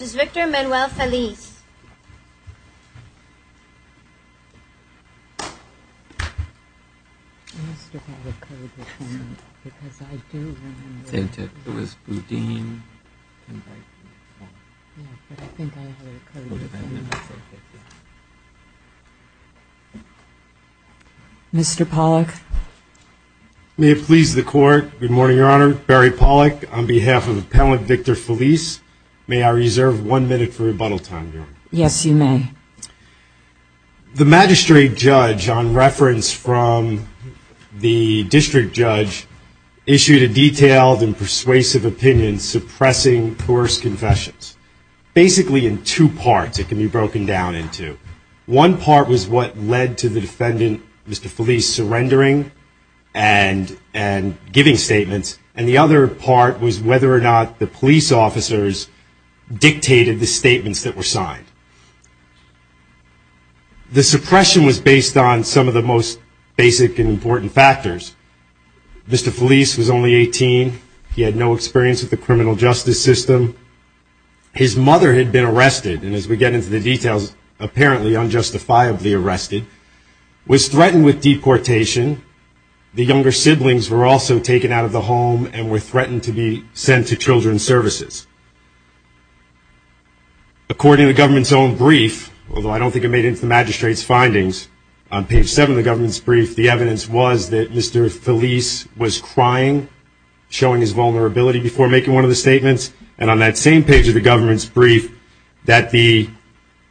Mr. Pollack, may it please the court. Good morning, Your Honor. Barry Pollack on behalf of appellant Victor Feliz, may I reserve one minute for rebuttal time? Yes, you may. The magistrate judge on reference from the district judge issued a detailed and persuasive opinion suppressing coerced confessions. Basically in two parts it can be broken down into. One part was what led to the defendant, Mr. Feliz surrendering and giving statements. And the other part was whether or not the police officers dictated the statements that were signed. The suppression was based on some of the most basic and important factors. Mr. Feliz was only 18. He had no experience with the criminal justice system. His mother had been arrested and as we get into the details, apparently unjustifiably arrested, was threatened with to be sent to children's services. According to the government's own brief, although I don't think it made it to the magistrate's findings, on page 7 of the government's brief, the evidence was that Mr. Feliz was crying, showing his vulnerability before making one of the statements. And on that same page of the government's brief, that the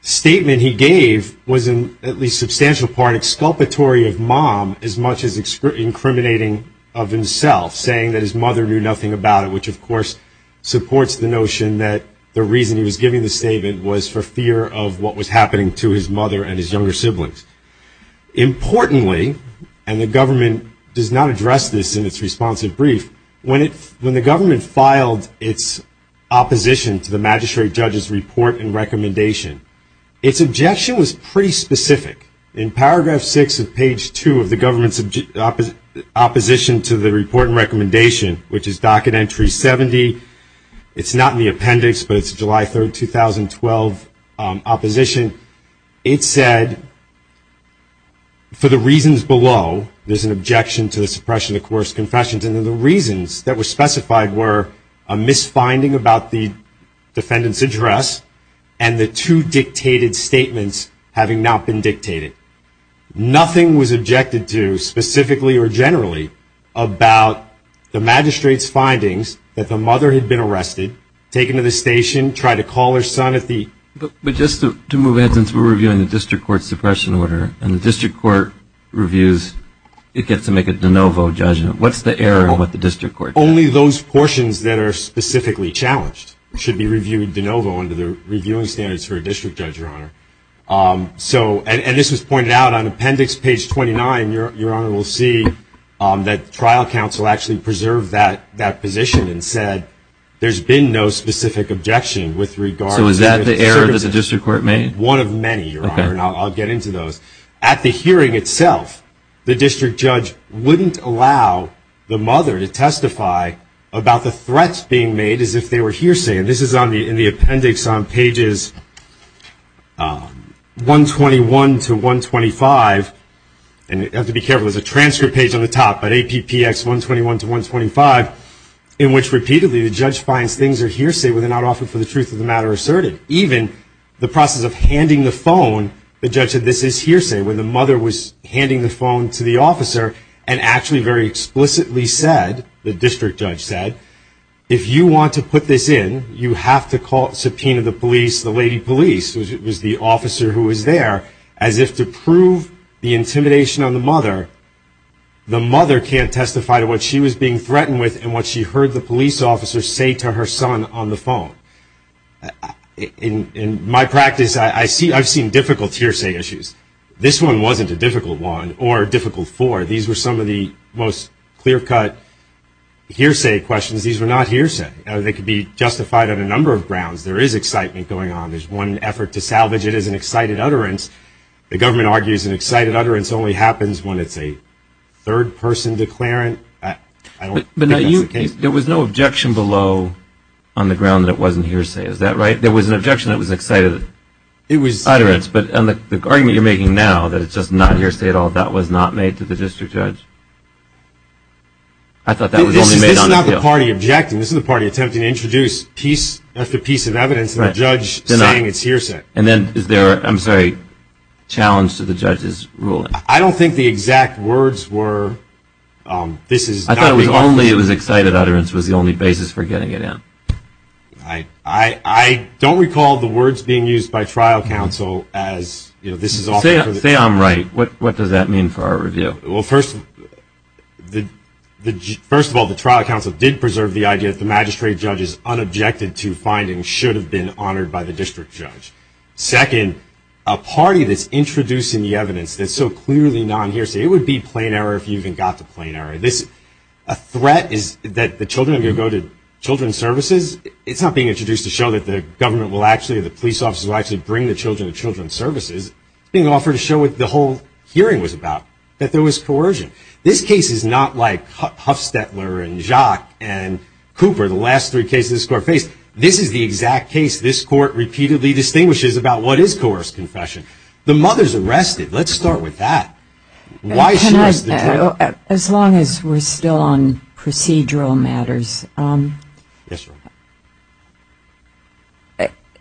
statement he gave was in at least substantial part exculpatory of mom as much as incriminating of himself, saying that his mother knew nothing about it, which of course supports the notion that the reason he was giving the statement was for fear of what was happening to his mother and his younger siblings. Importantly, and the government does not address this in its responsive brief, when the government filed its opposition to the magistrate judge's report and recommendation, its objection was pretty specific. In paragraph 6 of page 2 of the opposition to the report and recommendation, which is docket entry 70, it's not in the appendix, but it's July 3, 2012 opposition, it said, for the reasons below, there's an objection to the suppression of coerced confessions, and the reasons that were specified were a misfinding about the defendant's address and the two dictated statements having not been about the magistrate's findings that the mother had been arrested, taken to the station, tried to call her son at the- But just to move ahead, since we're reviewing the district court suppression order, and the district court reviews, it gets to make a de novo judgment, what's the error in what the district court- Only those portions that are specifically challenged should be reviewed de novo under the reviewing standards for a district judge, your honor. So, and this was pointed out on that trial counsel actually preserved that position and said, there's been no specific objection with regard to- So is that the error that the district court made? One of many, your honor, and I'll get into those. At the hearing itself, the district judge wouldn't allow the mother to testify about the threats being made as if they were hearsay, and this is in the appendix on pages 121 to 125, and you have to be careful, there's a transcript page on the top, but APPX 121 to 125, in which repeatedly the judge finds things are hearsay when they're not offered for the truth of the matter asserted. Even the process of handing the phone, the judge said this is hearsay, when the mother was handing the phone to the officer and actually very explicitly said, the district judge said, if you want to put this in, you have to call, subpoena the police, the lady police, which the mother can't testify to what she was being threatened with and what she heard the police officer say to her son on the phone. In my practice, I've seen difficult hearsay issues. This one wasn't a difficult one or a difficult four. These were some of the most clear-cut hearsay questions. These were not hearsay. They could be justified on a number of grounds. There is excitement going on. There's one effort to salvage it as an excited utterance. The government argues an excited utterance only happens when it's a third-person declarant. There was no objection below on the ground that it wasn't hearsay, is that right? There was an objection that was an excited utterance, but on the argument you're making now that it's just not hearsay at all, that was not made to the district judge? I thought that was only made on appeal. This is not the party objecting. This is the party attempting to challenge the judge's ruling. I don't think the exact words were... I thought it was only it was excited utterance was the only basis for getting it in. I don't recall the words being used by trial counsel as... Say I'm right. What does that mean for our review? First of all, the trial counsel did preserve the idea that the magistrate judge's unobjected to findings should have been honored by the district judge. Second, a party that's introducing the evidence that's so clearly non-hearsay, it would be plain error if you even got to plain error. A threat is that the children are going to go to children's services. It's not being introduced to show that the government will actually, the police officers will actually bring the children to children's services. It's being offered to show what the whole hearing was about, that there was coercion. This case is not like Huffstetler and Jacques and Cooper, the last three cases this court faced. This is the exact case this court repeatedly distinguishes about what is coerced confession. The mother's arrested. Let's start with that. As long as we're still on procedural matters,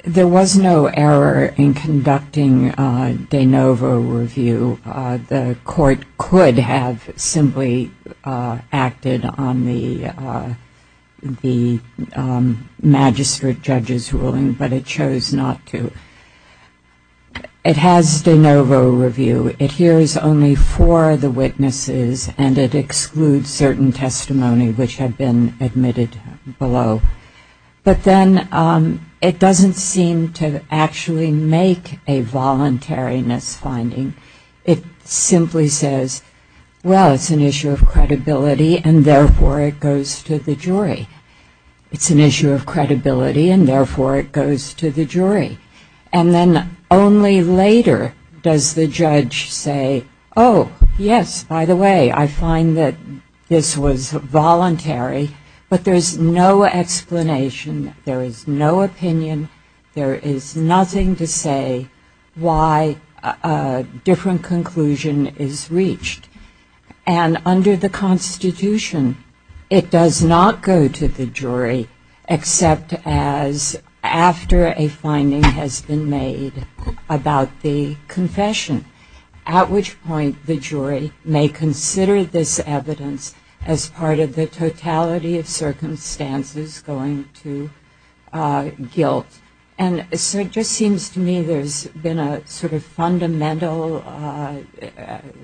there was no error in conducting de novo review. The court could have simply acted on the magistrate judge's ruling, but it chose not to. It has de novo review. It hears only four of the witnesses, and it excludes certain testimony which had been admitted below. But then it doesn't seem to actually make a voluntariness finding. It simply says, well, it's an issue of credibility, and therefore it goes to the jury. It's an issue of credibility, and therefore it goes to the jury. And then only later does the judge say, oh, yes, by the way, I find that this was voluntary, but there's no explanation, there is no opinion, there is nothing to say why a different conclusion is reached. And under the Constitution, it does not go to the jury except as after a finding has been made about the confession, at which point the jury may consider this evidence as part of the totality of circumstances going to guilt. And so it just seems to me there's been a sort of fundamental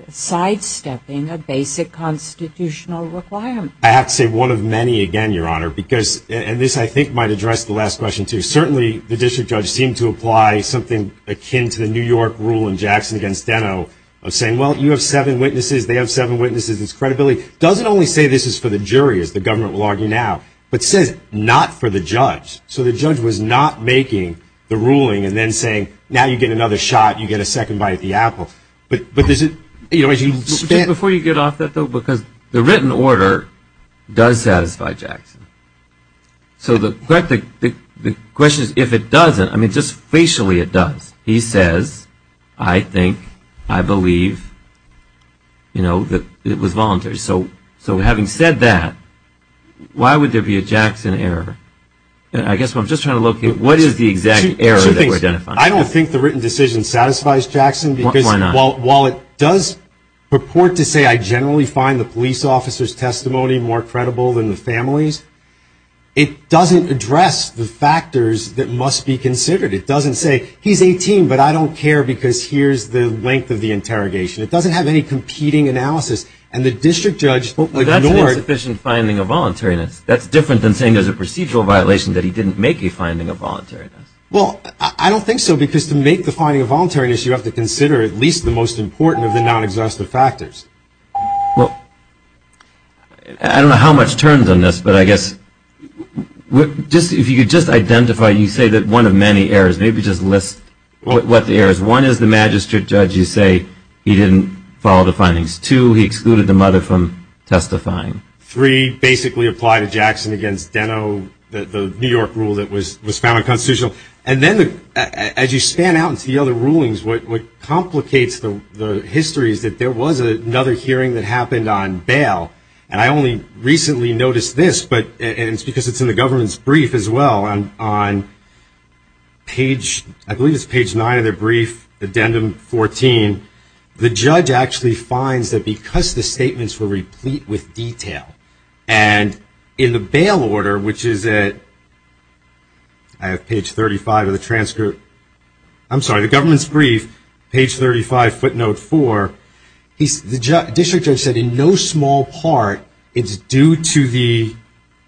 sidestepping a basic constitutional requirement. I have to say one of many again, Your Honor, because, and this I think might address the last question, too. Certainly the district judge seemed to apply something akin to the New York rule in Jackson against Deno of saying, well, you have seven witnesses, they have seven witnesses, it's credibility. It doesn't only say this is for the jury, as the government will argue now, but says not for the judge. So the judge was not making the ruling and then saying, now you get another shot, you get a second bite at the apple. But before you get off that, though, because the written order does satisfy Jackson. So the question is, if it doesn't, I mean, just facially it does. He says, I think, I believe, you know, that it was voluntary. So having said that, why would there be a Jackson error? I guess I'm just trying to locate what is the exact error that we're identifying. I don't think the written decision satisfies Jackson. Why not? While it does purport to say I generally find the police officer's testimony more credible than the family's, it doesn't address the factors that must be considered. It doesn't say he's 18, but I don't care because here's the length of the interrogation. It doesn't have any competing analysis. And the district judge would ignore it. Well, that's an insufficient finding of voluntariness. That's different than saying there's a procedural violation that he didn't make a finding of voluntariness. Well, I don't think so, because to make the finding of voluntariness, you have to consider at least the most important of the non-exhaustive factors. Well, I don't know how much turns on this, but I guess just if you could just identify you say that one of many errors, maybe just list what the error is. One is the magistrate judge, you say he didn't follow the findings. Two, he excluded the mother from testifying. Three, basically apply to Jackson against Deno, the New York rule that was found unconstitutional. And then as you span out into the other rulings, what complicates the history is that there was another hearing that happened on bail. And I only recently noticed this, and it's in the government's brief as well, on page, I believe it's page 9 of their brief, addendum 14. The judge actually finds that because the statements were replete with detail, and in the bail order, which is at, I have page 35 of the transcript, I'm sorry, the government's brief, page 35, footnote 4, the district judge said in no small part it's due to the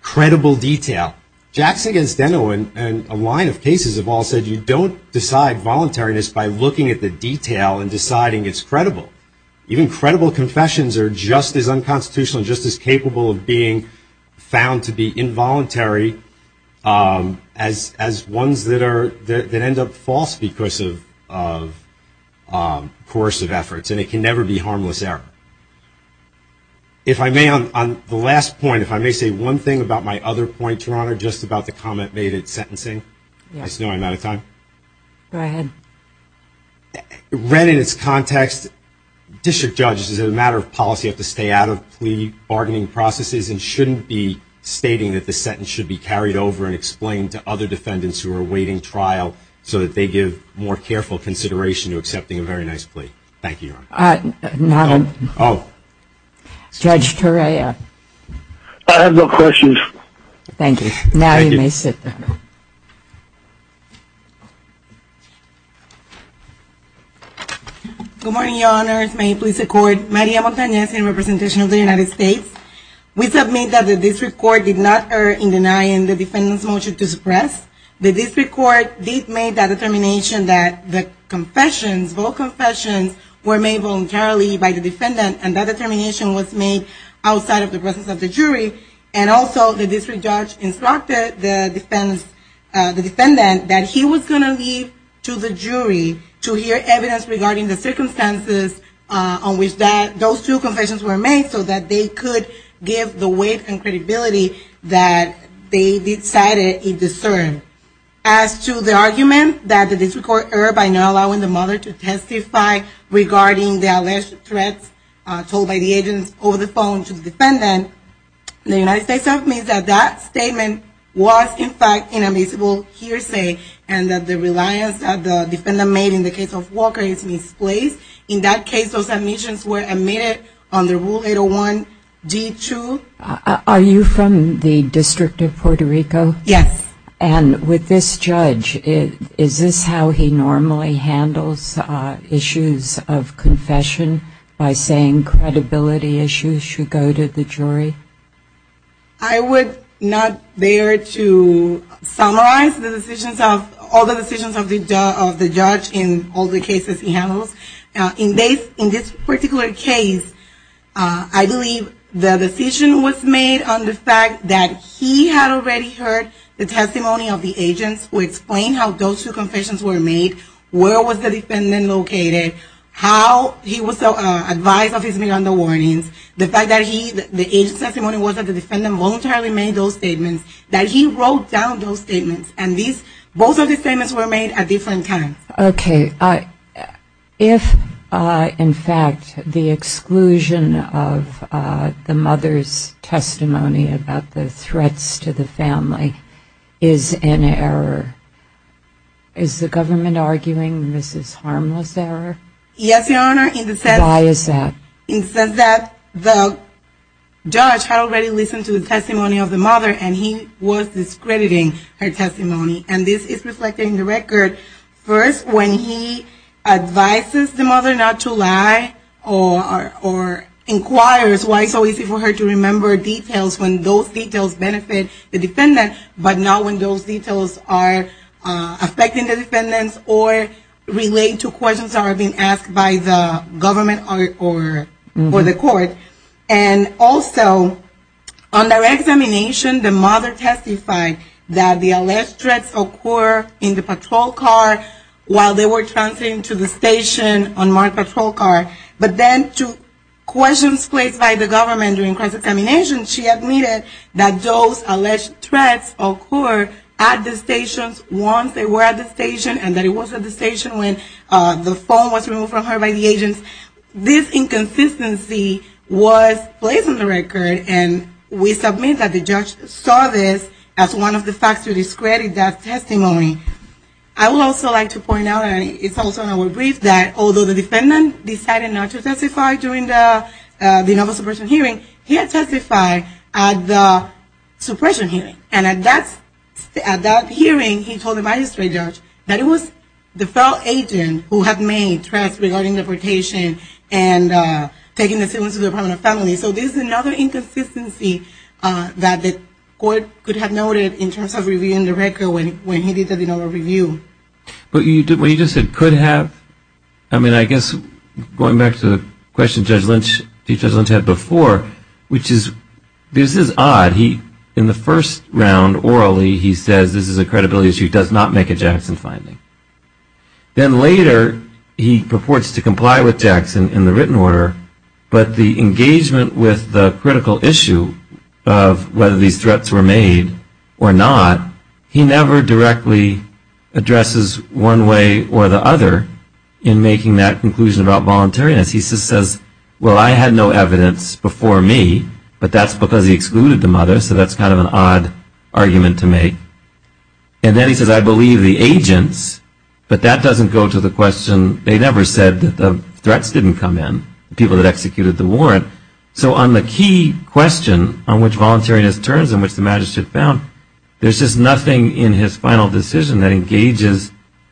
credible detail. Jackson against Deno and a line of cases have all said you don't decide voluntariness by looking at the detail and deciding it's credible. Even credible confessions are just as unconstitutional and just as capable of being found to be involuntary as ones that end up false because of coercive efforts, and it can never be harmless error. If I may, on the last point, if I may say one thing about my other point, Your Honor, just about the comment made at sentencing. I just know I'm out of time. Go ahead. Read in its context, district judges, as a matter of policy, have to stay out of plea bargaining processes and shouldn't be stating that the sentence should be carried over and explained to other defendants who are awaiting trial so that they give more careful consideration to accepting a very nice plea. Thank you, Your Honor. Judge Torrea. I have no questions. Thank you. Now you may sit down. Good morning, Your Honors. May it please the Court, Maria Montanez in representation of the United States, we submit that the district court did not err in denying the defendant's motion to suppress, the district court did make that determination that the confessions, both confessions, were made voluntarily by the defendant and that determination was made outside of the presence of the jury, and also the district judge instructed the defendant that he was going to leave to the jury to hear evidence regarding the circumstances on which those two confessions were made so that they could give the weight and credibility that they decided it discerned. As to the argument that the district court erred by not allowing the mother to testify regarding the alleged threats told by the agents over the phone to the defendant, the United States submits that that statement was in fact an admissible hearsay and that the reliance that the defendant made in the case of Walker is misplaced. In that case, those admissions were admitted under Rule 801, G2. Are you from the District of Puerto Rico? Yes. And with this judge, is this how he normally handles issues of confession, by saying credibility issues should go to the jury? I would not dare to summarize the decisions of, all the decisions of the judge in all the cases he handles. In this particular case, I believe the decision was made on the fact that he had already heard the testimony of the agents who explained how those two confessions were made, where was the defendant located, how he was advised of his meandering warnings, the fact that the agent's testimony was that the defendant voluntarily made those statements, that he wrote down those statements, and both of these statements were made at different times. Okay. If, in fact, the exclusion of the mother's testimony about the threats against the mother and the threats to the family is an error, is the government arguing this is harmless error? Yes, Your Honor, in the sense that the judge had already listened to the testimony of the mother, and he was discrediting her testimony. And this is reflected in the record. First, when he advises the mother not to lie, or inquires why it's so easy for her to remember details when those details benefit the defendant, but not when those details are affecting the defendants or relate to questions that are being asked by the government or the court. And also, under examination, the mother testified that the alleged threats occurred in the patrol car while they were transferring to the station on my patrol car, but then to questions placed by the government during crisis examination, she admitted that those alleged threats occurred at the stations once they were at the station, and that it was at the station when the phone was removed from her by the agents. This inconsistency was placed in the record, and we submit that the judge saw this as one of the facts to discredit that testimony. I would also like to point out, and it's also in our brief, that although the defendant decided not to testify during the denial of suppression hearing, he had testified at the suppression hearing. And at that hearing, he told the magistrate judge that it was the fell agent who had made threats regarding deportation and taking the citizens to the Department of Family. So this is another inconsistency that the court could have noted in terms of reviewing the record when he did the denial of review. But you just said could have. I mean, I guess going back to the question Judge Lynch had before, which is, this is odd. In the first round, orally, he says this is a credibility issue, does not make a Jackson finding. Then later, he purports to comply with Jackson in the written order, but the engagement with the critical issue of whether these threats were made or not, he never directly addresses one way or the other in making that conclusion about voluntariness. He just says, well, I had no evidence before me, but that's because he excluded them others. So that's kind of an odd argument to make. And then he says, I believe the agents, but that doesn't go to the question. They never said that the threats didn't come in, the people that executed the warrant. So on the key question, on which voluntariness turns and which the magistrate found, there's just nothing in his final decision that engages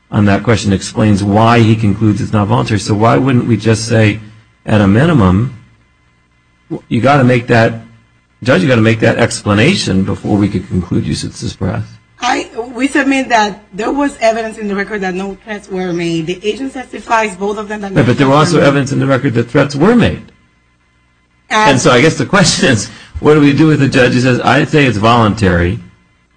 on that question, explains why he concludes it's not voluntary. So why wouldn't we just say, at a minimum, you got to make that, Judge, you got to make that explanation before we could conclude you should suppress. We submit that there was evidence in the record that no threats were made. The agent testifies both of them. But there was also evidence in the record that threats were made. And so I guess the question is, what do we do with the judge? He says, I'd say it's voluntary,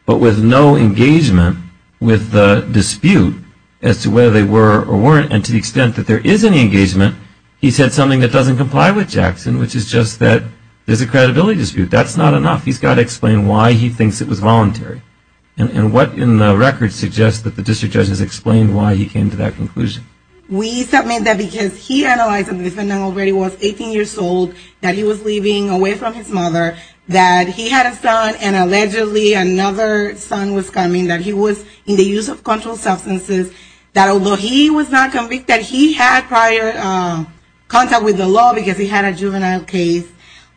but with no engagement with the dispute as to whether they were or weren't. And to the extent that there is any engagement, he said something that doesn't comply with Jackson, which is just that there's a credibility dispute. That's not enough. He's got to explain why he thinks it was voluntary. And what in the record suggests that the district judge has explained why he came to that conclusion? We submit that because he analyzed the defendant already was 18 years old, that he was leaving away from his mother, that he had a son and allegedly another son was coming, that he was in the use of controlled substances, that although he was not convicted, he had prior contact with the law because he had a juvenile case.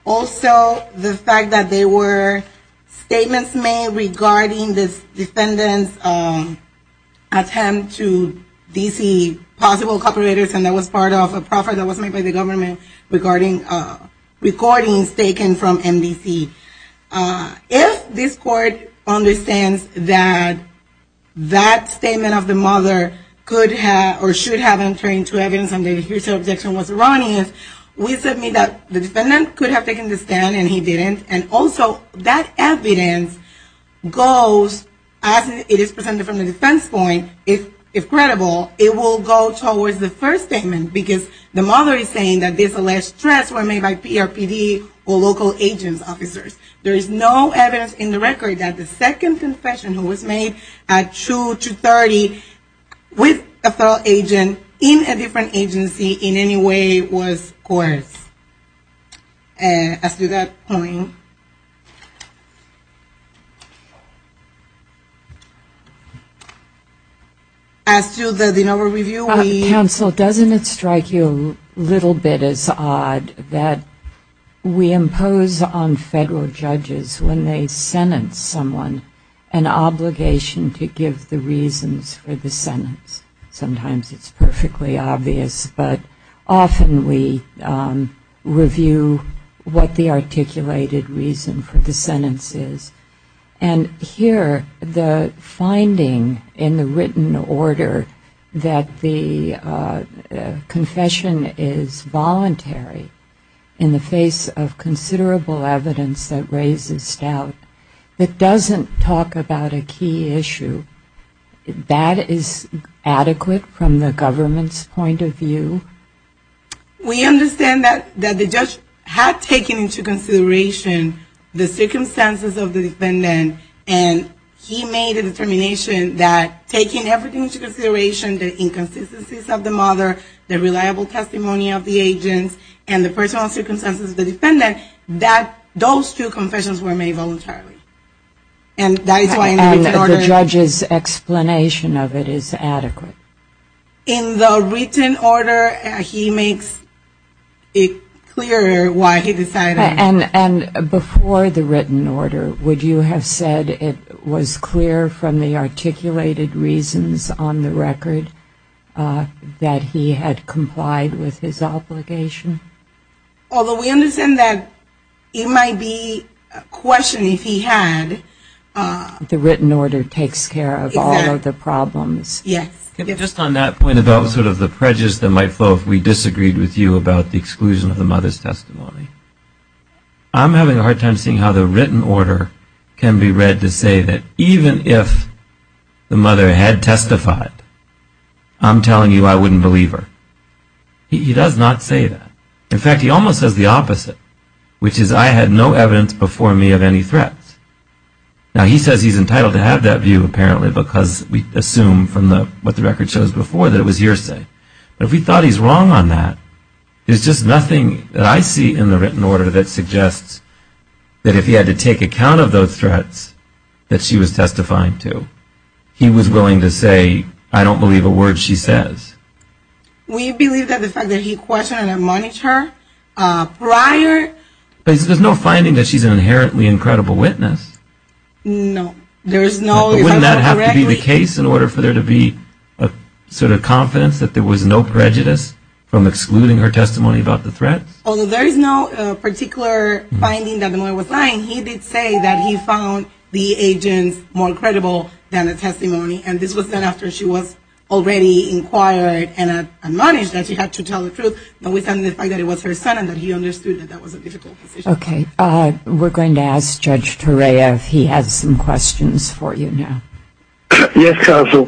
Also, the fact that there were statements made regarding this defendant's attempt to DC possible cooperators, and that was part of a proffer that was made by the government regarding recordings taken from MDC. If this court understands that that statement of the mother could have or should have been turned to evidence and the judicial objection was erroneous, we submit that the defendant could have taken the stand and he didn't. And also, that evidence goes, as it is presented from the defense point, if credible, it will go towards the first statement because the mother is saying that this alleged stress was made by PRPD or local agents, officers. There is no evidence in the record that the second confession was made at 2 to 30 with a federal agent in a different agency in any way was coerced. As to that point, as to the Denover review we Counsel, doesn't it strike you a little bit as odd that we impose on federal judges when they sentence someone an obligation to give the reasons for the sentence? Sometimes it's perfectly obvious, but often we review what the articulated reason for the sentence is. And here, the finding in the written order that the confession is voluntary in the face of considerable evidence that raises doubt, it doesn't talk about a key issue. That is adequate from the government's point of view? We understand that the judge had taken into consideration the circumstances of the defendant and he made a determination that taking everything into consideration, the inconsistencies of the mother, the reliable testimony of the agents, and the personal circumstances of the defendant, that those two confessions were made voluntarily. And the judge's explanation of it is adequate? In the written order, he makes it clear why he decided. And before the written order, would you have said it was clear from the articulated reasons on the record that he had complied with his obligation? Although we understand that it might be a question if he had. The written order takes care of all of the problems. Yes. Just on that point about sort of the prejudice that might flow if we disagreed with you about the exclusion of the mother's testimony, I'm having a hard time seeing how the written order can be read to say that even if the mother had testified, I'm telling you I wouldn't believe her. He does not say that. In fact, he almost says the opposite, which is I had no evidence before me of any threats. Now he says he's entitled to have that view, apparently, because we assume from what the record shows before that it was hearsay. But if we thought he's wrong on that, there's just nothing that I see in the written order that suggests that if he had to take account of those threats that she was testifying to, he was willing to say, I don't believe a word she says. We believe that the fact that he questioned and admonished her prior... But there's no finding that she's an inherently incredible witness. No. But wouldn't that have to be the case in order for there to be a sort of confidence that there was no prejudice from excluding her testimony about the threats? Although there is no particular finding that the mother was lying, he did say that he found the agents more credible than the testimony. And this was done after she was already inquired and admonished that she had to tell the truth. But we found the fact that it was her son and that he understood that that was a difficult position. Okay. We're going to ask Judge Torea if he has some questions for you now. Yes, counsel.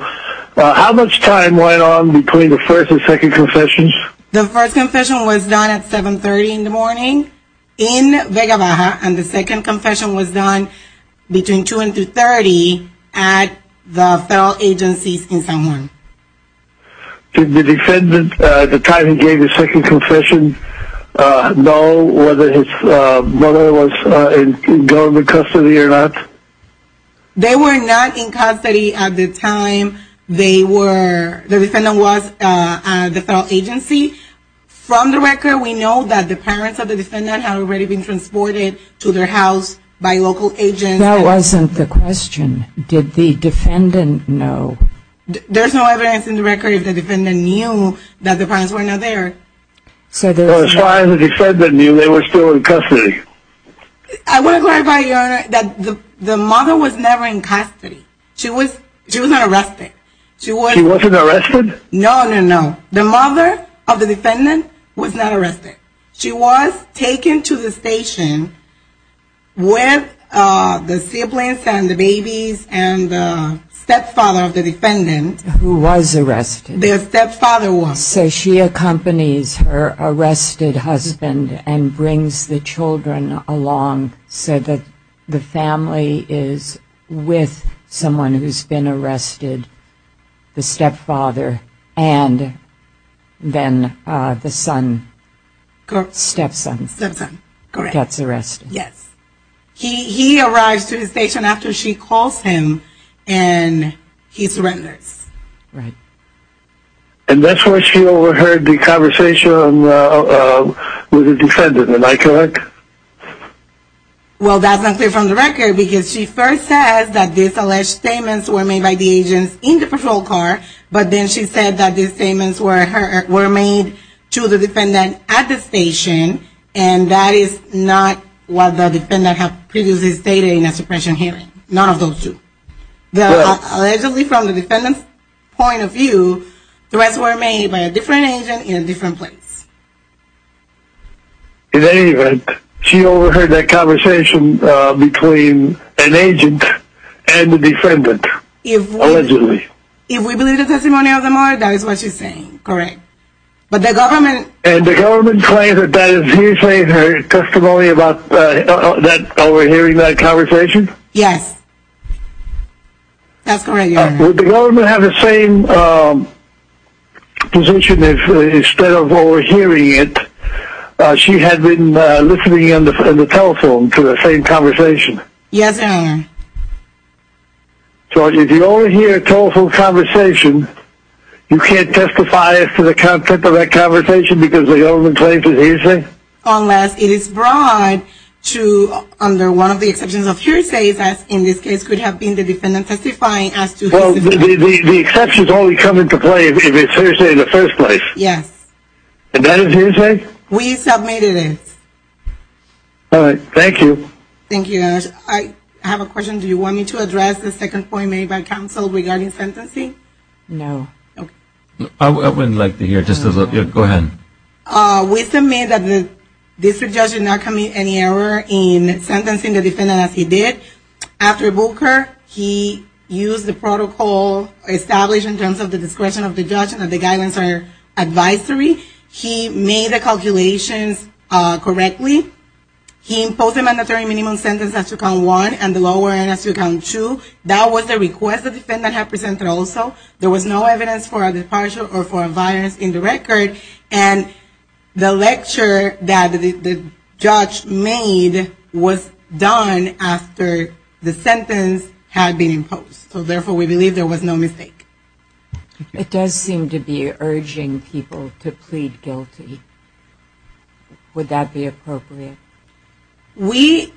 How much time went on between the first and second confessions? The first confession was done at 7.30 in the morning in Vega Baja and the second confession was done between 2 and 2.30 at the federal agencies in San Juan. Did the defendant at the time he gave his second confession know whether his mother was in government custody or not? They were not in custody at the time they were, the defendant was at the federal agency. From the record, we know that the parents of the defendant had already been transported to their house by local agents. That wasn't the question. Did the defendant know? There's no evidence in the record if the defendant knew that the parents were not there. Well, as far as the defendant knew, they were still in custody. I want to clarify, Your Honor, that the mother was never in custody. She was not arrested. She wasn't arrested? No, no, no. The mother of the defendant was not arrested. She was taken to the station with the siblings and the babies and the stepfather of the defendant. Who was arrested. Their stepfather was. So she accompanies her arrested husband and brings the children along so that the family is with someone who's been arrested, the stepfather, and then the son, stepson. Stepson, correct. Gets arrested. Yes. He arrives to the station after she calls him and he surrenders. And that's where she overheard the conversation with the defendant, am I correct? Well, that's not clear from the record because she first says that these alleged statements were made by the agents in the patrol car, but then she said that these statements were made to the defendant at the station, and that is not what the defendant had previously stated in a suppression hearing. None of those two. Allegedly from the defendant's point of view, the rights were made by a different agent in a different place. In any event, she overheard that conversation between an agent and the defendant, allegedly. If we believe the testimony of the mother, that is what she's saying, correct. But the government... And the government claims that that is usually her testimony about overhearing that conversation? Yes. That's correct, Your Honor. Would the government have the same position if instead of overhearing it, she had been listening on the telephone to the same conversation? Yes, Your Honor. So if you overhear a telephone conversation, you can't testify to the content of that conversation because the government claims it is her? Unless it is brought to under one of the exceptions of hearsays, as in this case could have been the defendant testifying as to... Well, the exceptions only come into play if it's hearsay in the first place. Yes. And that is hearsay? We submitted it. All right. Thank you. Thank you, Your Honor. I have a question. Do you want me to address the second point made by counsel regarding sentencing? No. Okay. I wouldn't like to hear it just as a... Go ahead. We submit that the district judge did not commit any error in sentencing the defendant as he did. After Booker, he used the protocol established in terms of the discretion of the judge and the guidance or advisory. He made the calculations correctly. He imposed a mandatory minimum sentence as to count one and the lower end as to count two. That was the request the defendant had presented also. There was no evidence for a departure or for a violence in the record. And the lecture that the judge made was done after the sentence had been imposed. So, therefore, we believe there was no mistake. It does seem to be urging people to plead guilty. Would that be appropriate? We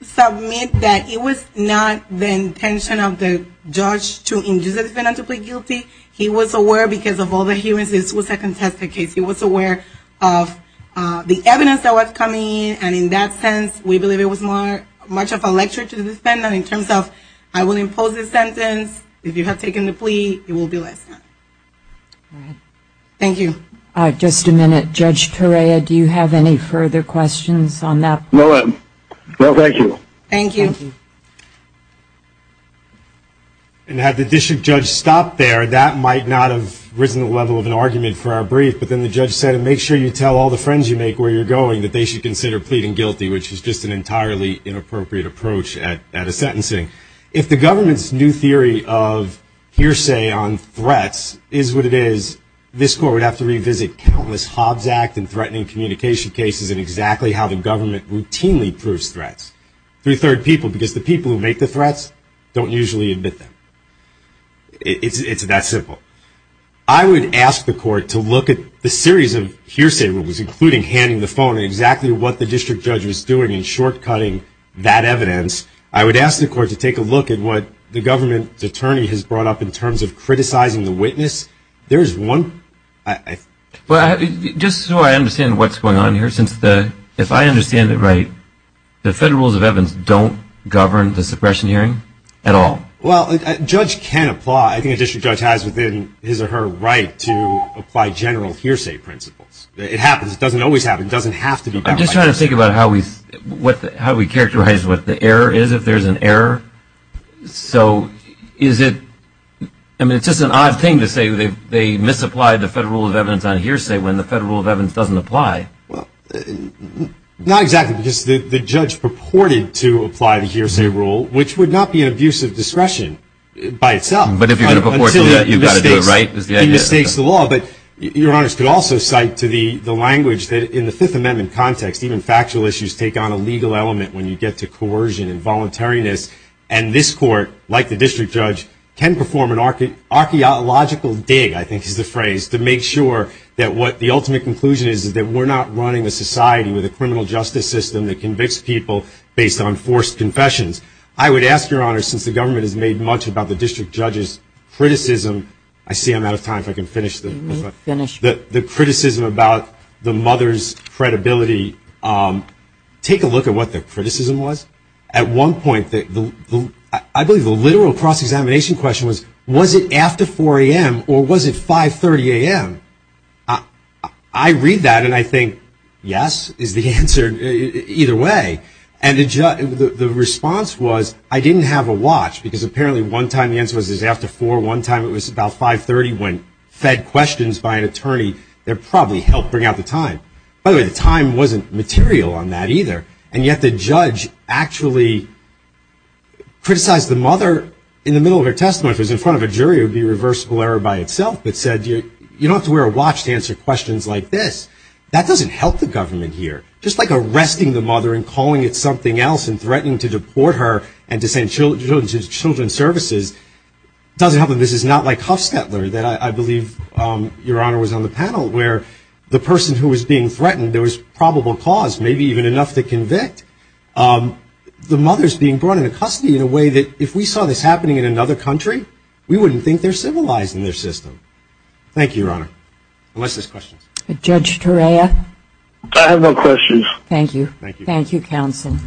submit that it was not the intention of the judge to induce the defendant to plead guilty. He was aware because of all the hearings this was a contested case. He was aware of the evidence that was coming. And in that sense, we believe it was much of a lecture to the defendant in terms of I will impose this sentence. If you have taken the plea, it will be less. All right. Thank you. All right. Just a minute. Judge Torea, do you have any further questions on that? No. Well, thank you. Thank you. Thank you. And had the district judge stopped there, that might not have risen to the level of an argument for our brief. But then the judge said, make sure you tell all the friends you make where you're going that they should consider pleading guilty, which is just an entirely inappropriate approach at a sentencing. If the government's new theory of hearsay on threats is what it is, this court would have to revisit countless Hobbs Act and threatening communication cases and exactly how the government routinely proves threats through third people because the people who make the threats don't usually admit them. It's that simple. I would ask the court to look at the series of hearsay rules, including handing the phone and exactly what the district judge was doing and short-cutting that evidence. I would ask the court to take a look at what the government's attorney has brought up in terms of criticizing the witness. Just so I understand what's going on here, if I understand it right, the Federal Rules of Evidence don't govern the suppression hearing at all? Well, a judge can apply. I think a district judge has within his or her right to apply general hearsay principles. It happens. It doesn't always happen. It doesn't have to be done. I'm just trying to think about how we characterize what the error is if there's an error. So is it – I mean, it's just an odd thing to say they misapplied the Federal Rule of Evidence on hearsay when the Federal Rule of Evidence doesn't apply. Well, not exactly because the judge purported to apply the hearsay rule, which would not be an abuse of discretion by itself. But if you're going to purport to do that, you've got to do it right. He mistakes the law. But Your Honors could also cite to the language that in the Fifth Amendment context, even factual issues take on a legal element when you get to coercion and voluntariness. And this court, like the district judge, can perform an archaeological dig, I think is the phrase, to make sure that what the ultimate conclusion is, is that we're not running a society with a criminal justice system that convicts people based on forced confessions. I would ask, Your Honors, since the government has made much about the district judge's criticism – I see I'm out of time. If I can finish. Finish. The criticism about the mother's credibility, take a look at what the criticism was. At one point, I believe the literal cross-examination question was, was it after 4 a.m. or was it 5.30 a.m.? I read that and I think, yes, is the answer, either way. And the response was, I didn't have a watch, because apparently one time the answer was after 4, one time it was about 5.30 when fed questions by an attorney that probably helped bring out the time. By the way, the time wasn't material on that either, and yet the judge actually criticized the mother in the middle of her testimony. If it was in front of a jury, it would be a reversible error by itself, but said you don't have to wear a watch to answer questions like this. That doesn't help the government here. Just like arresting the mother and calling it something else and threatening to deport her and to send her to children's services, doesn't help that this is not like Huffstetler, that I believe, Your Honor, was on the panel, where the person who was being threatened, there was probable cause, maybe even enough to convict. The mother's being brought into custody in a way that if we saw this happening in another country, we wouldn't think they're civilized in their system. Thank you, Your Honor. Unless there's questions. Judge Torea? I have no questions. Thank you. Thank you, Counsel. Thank you.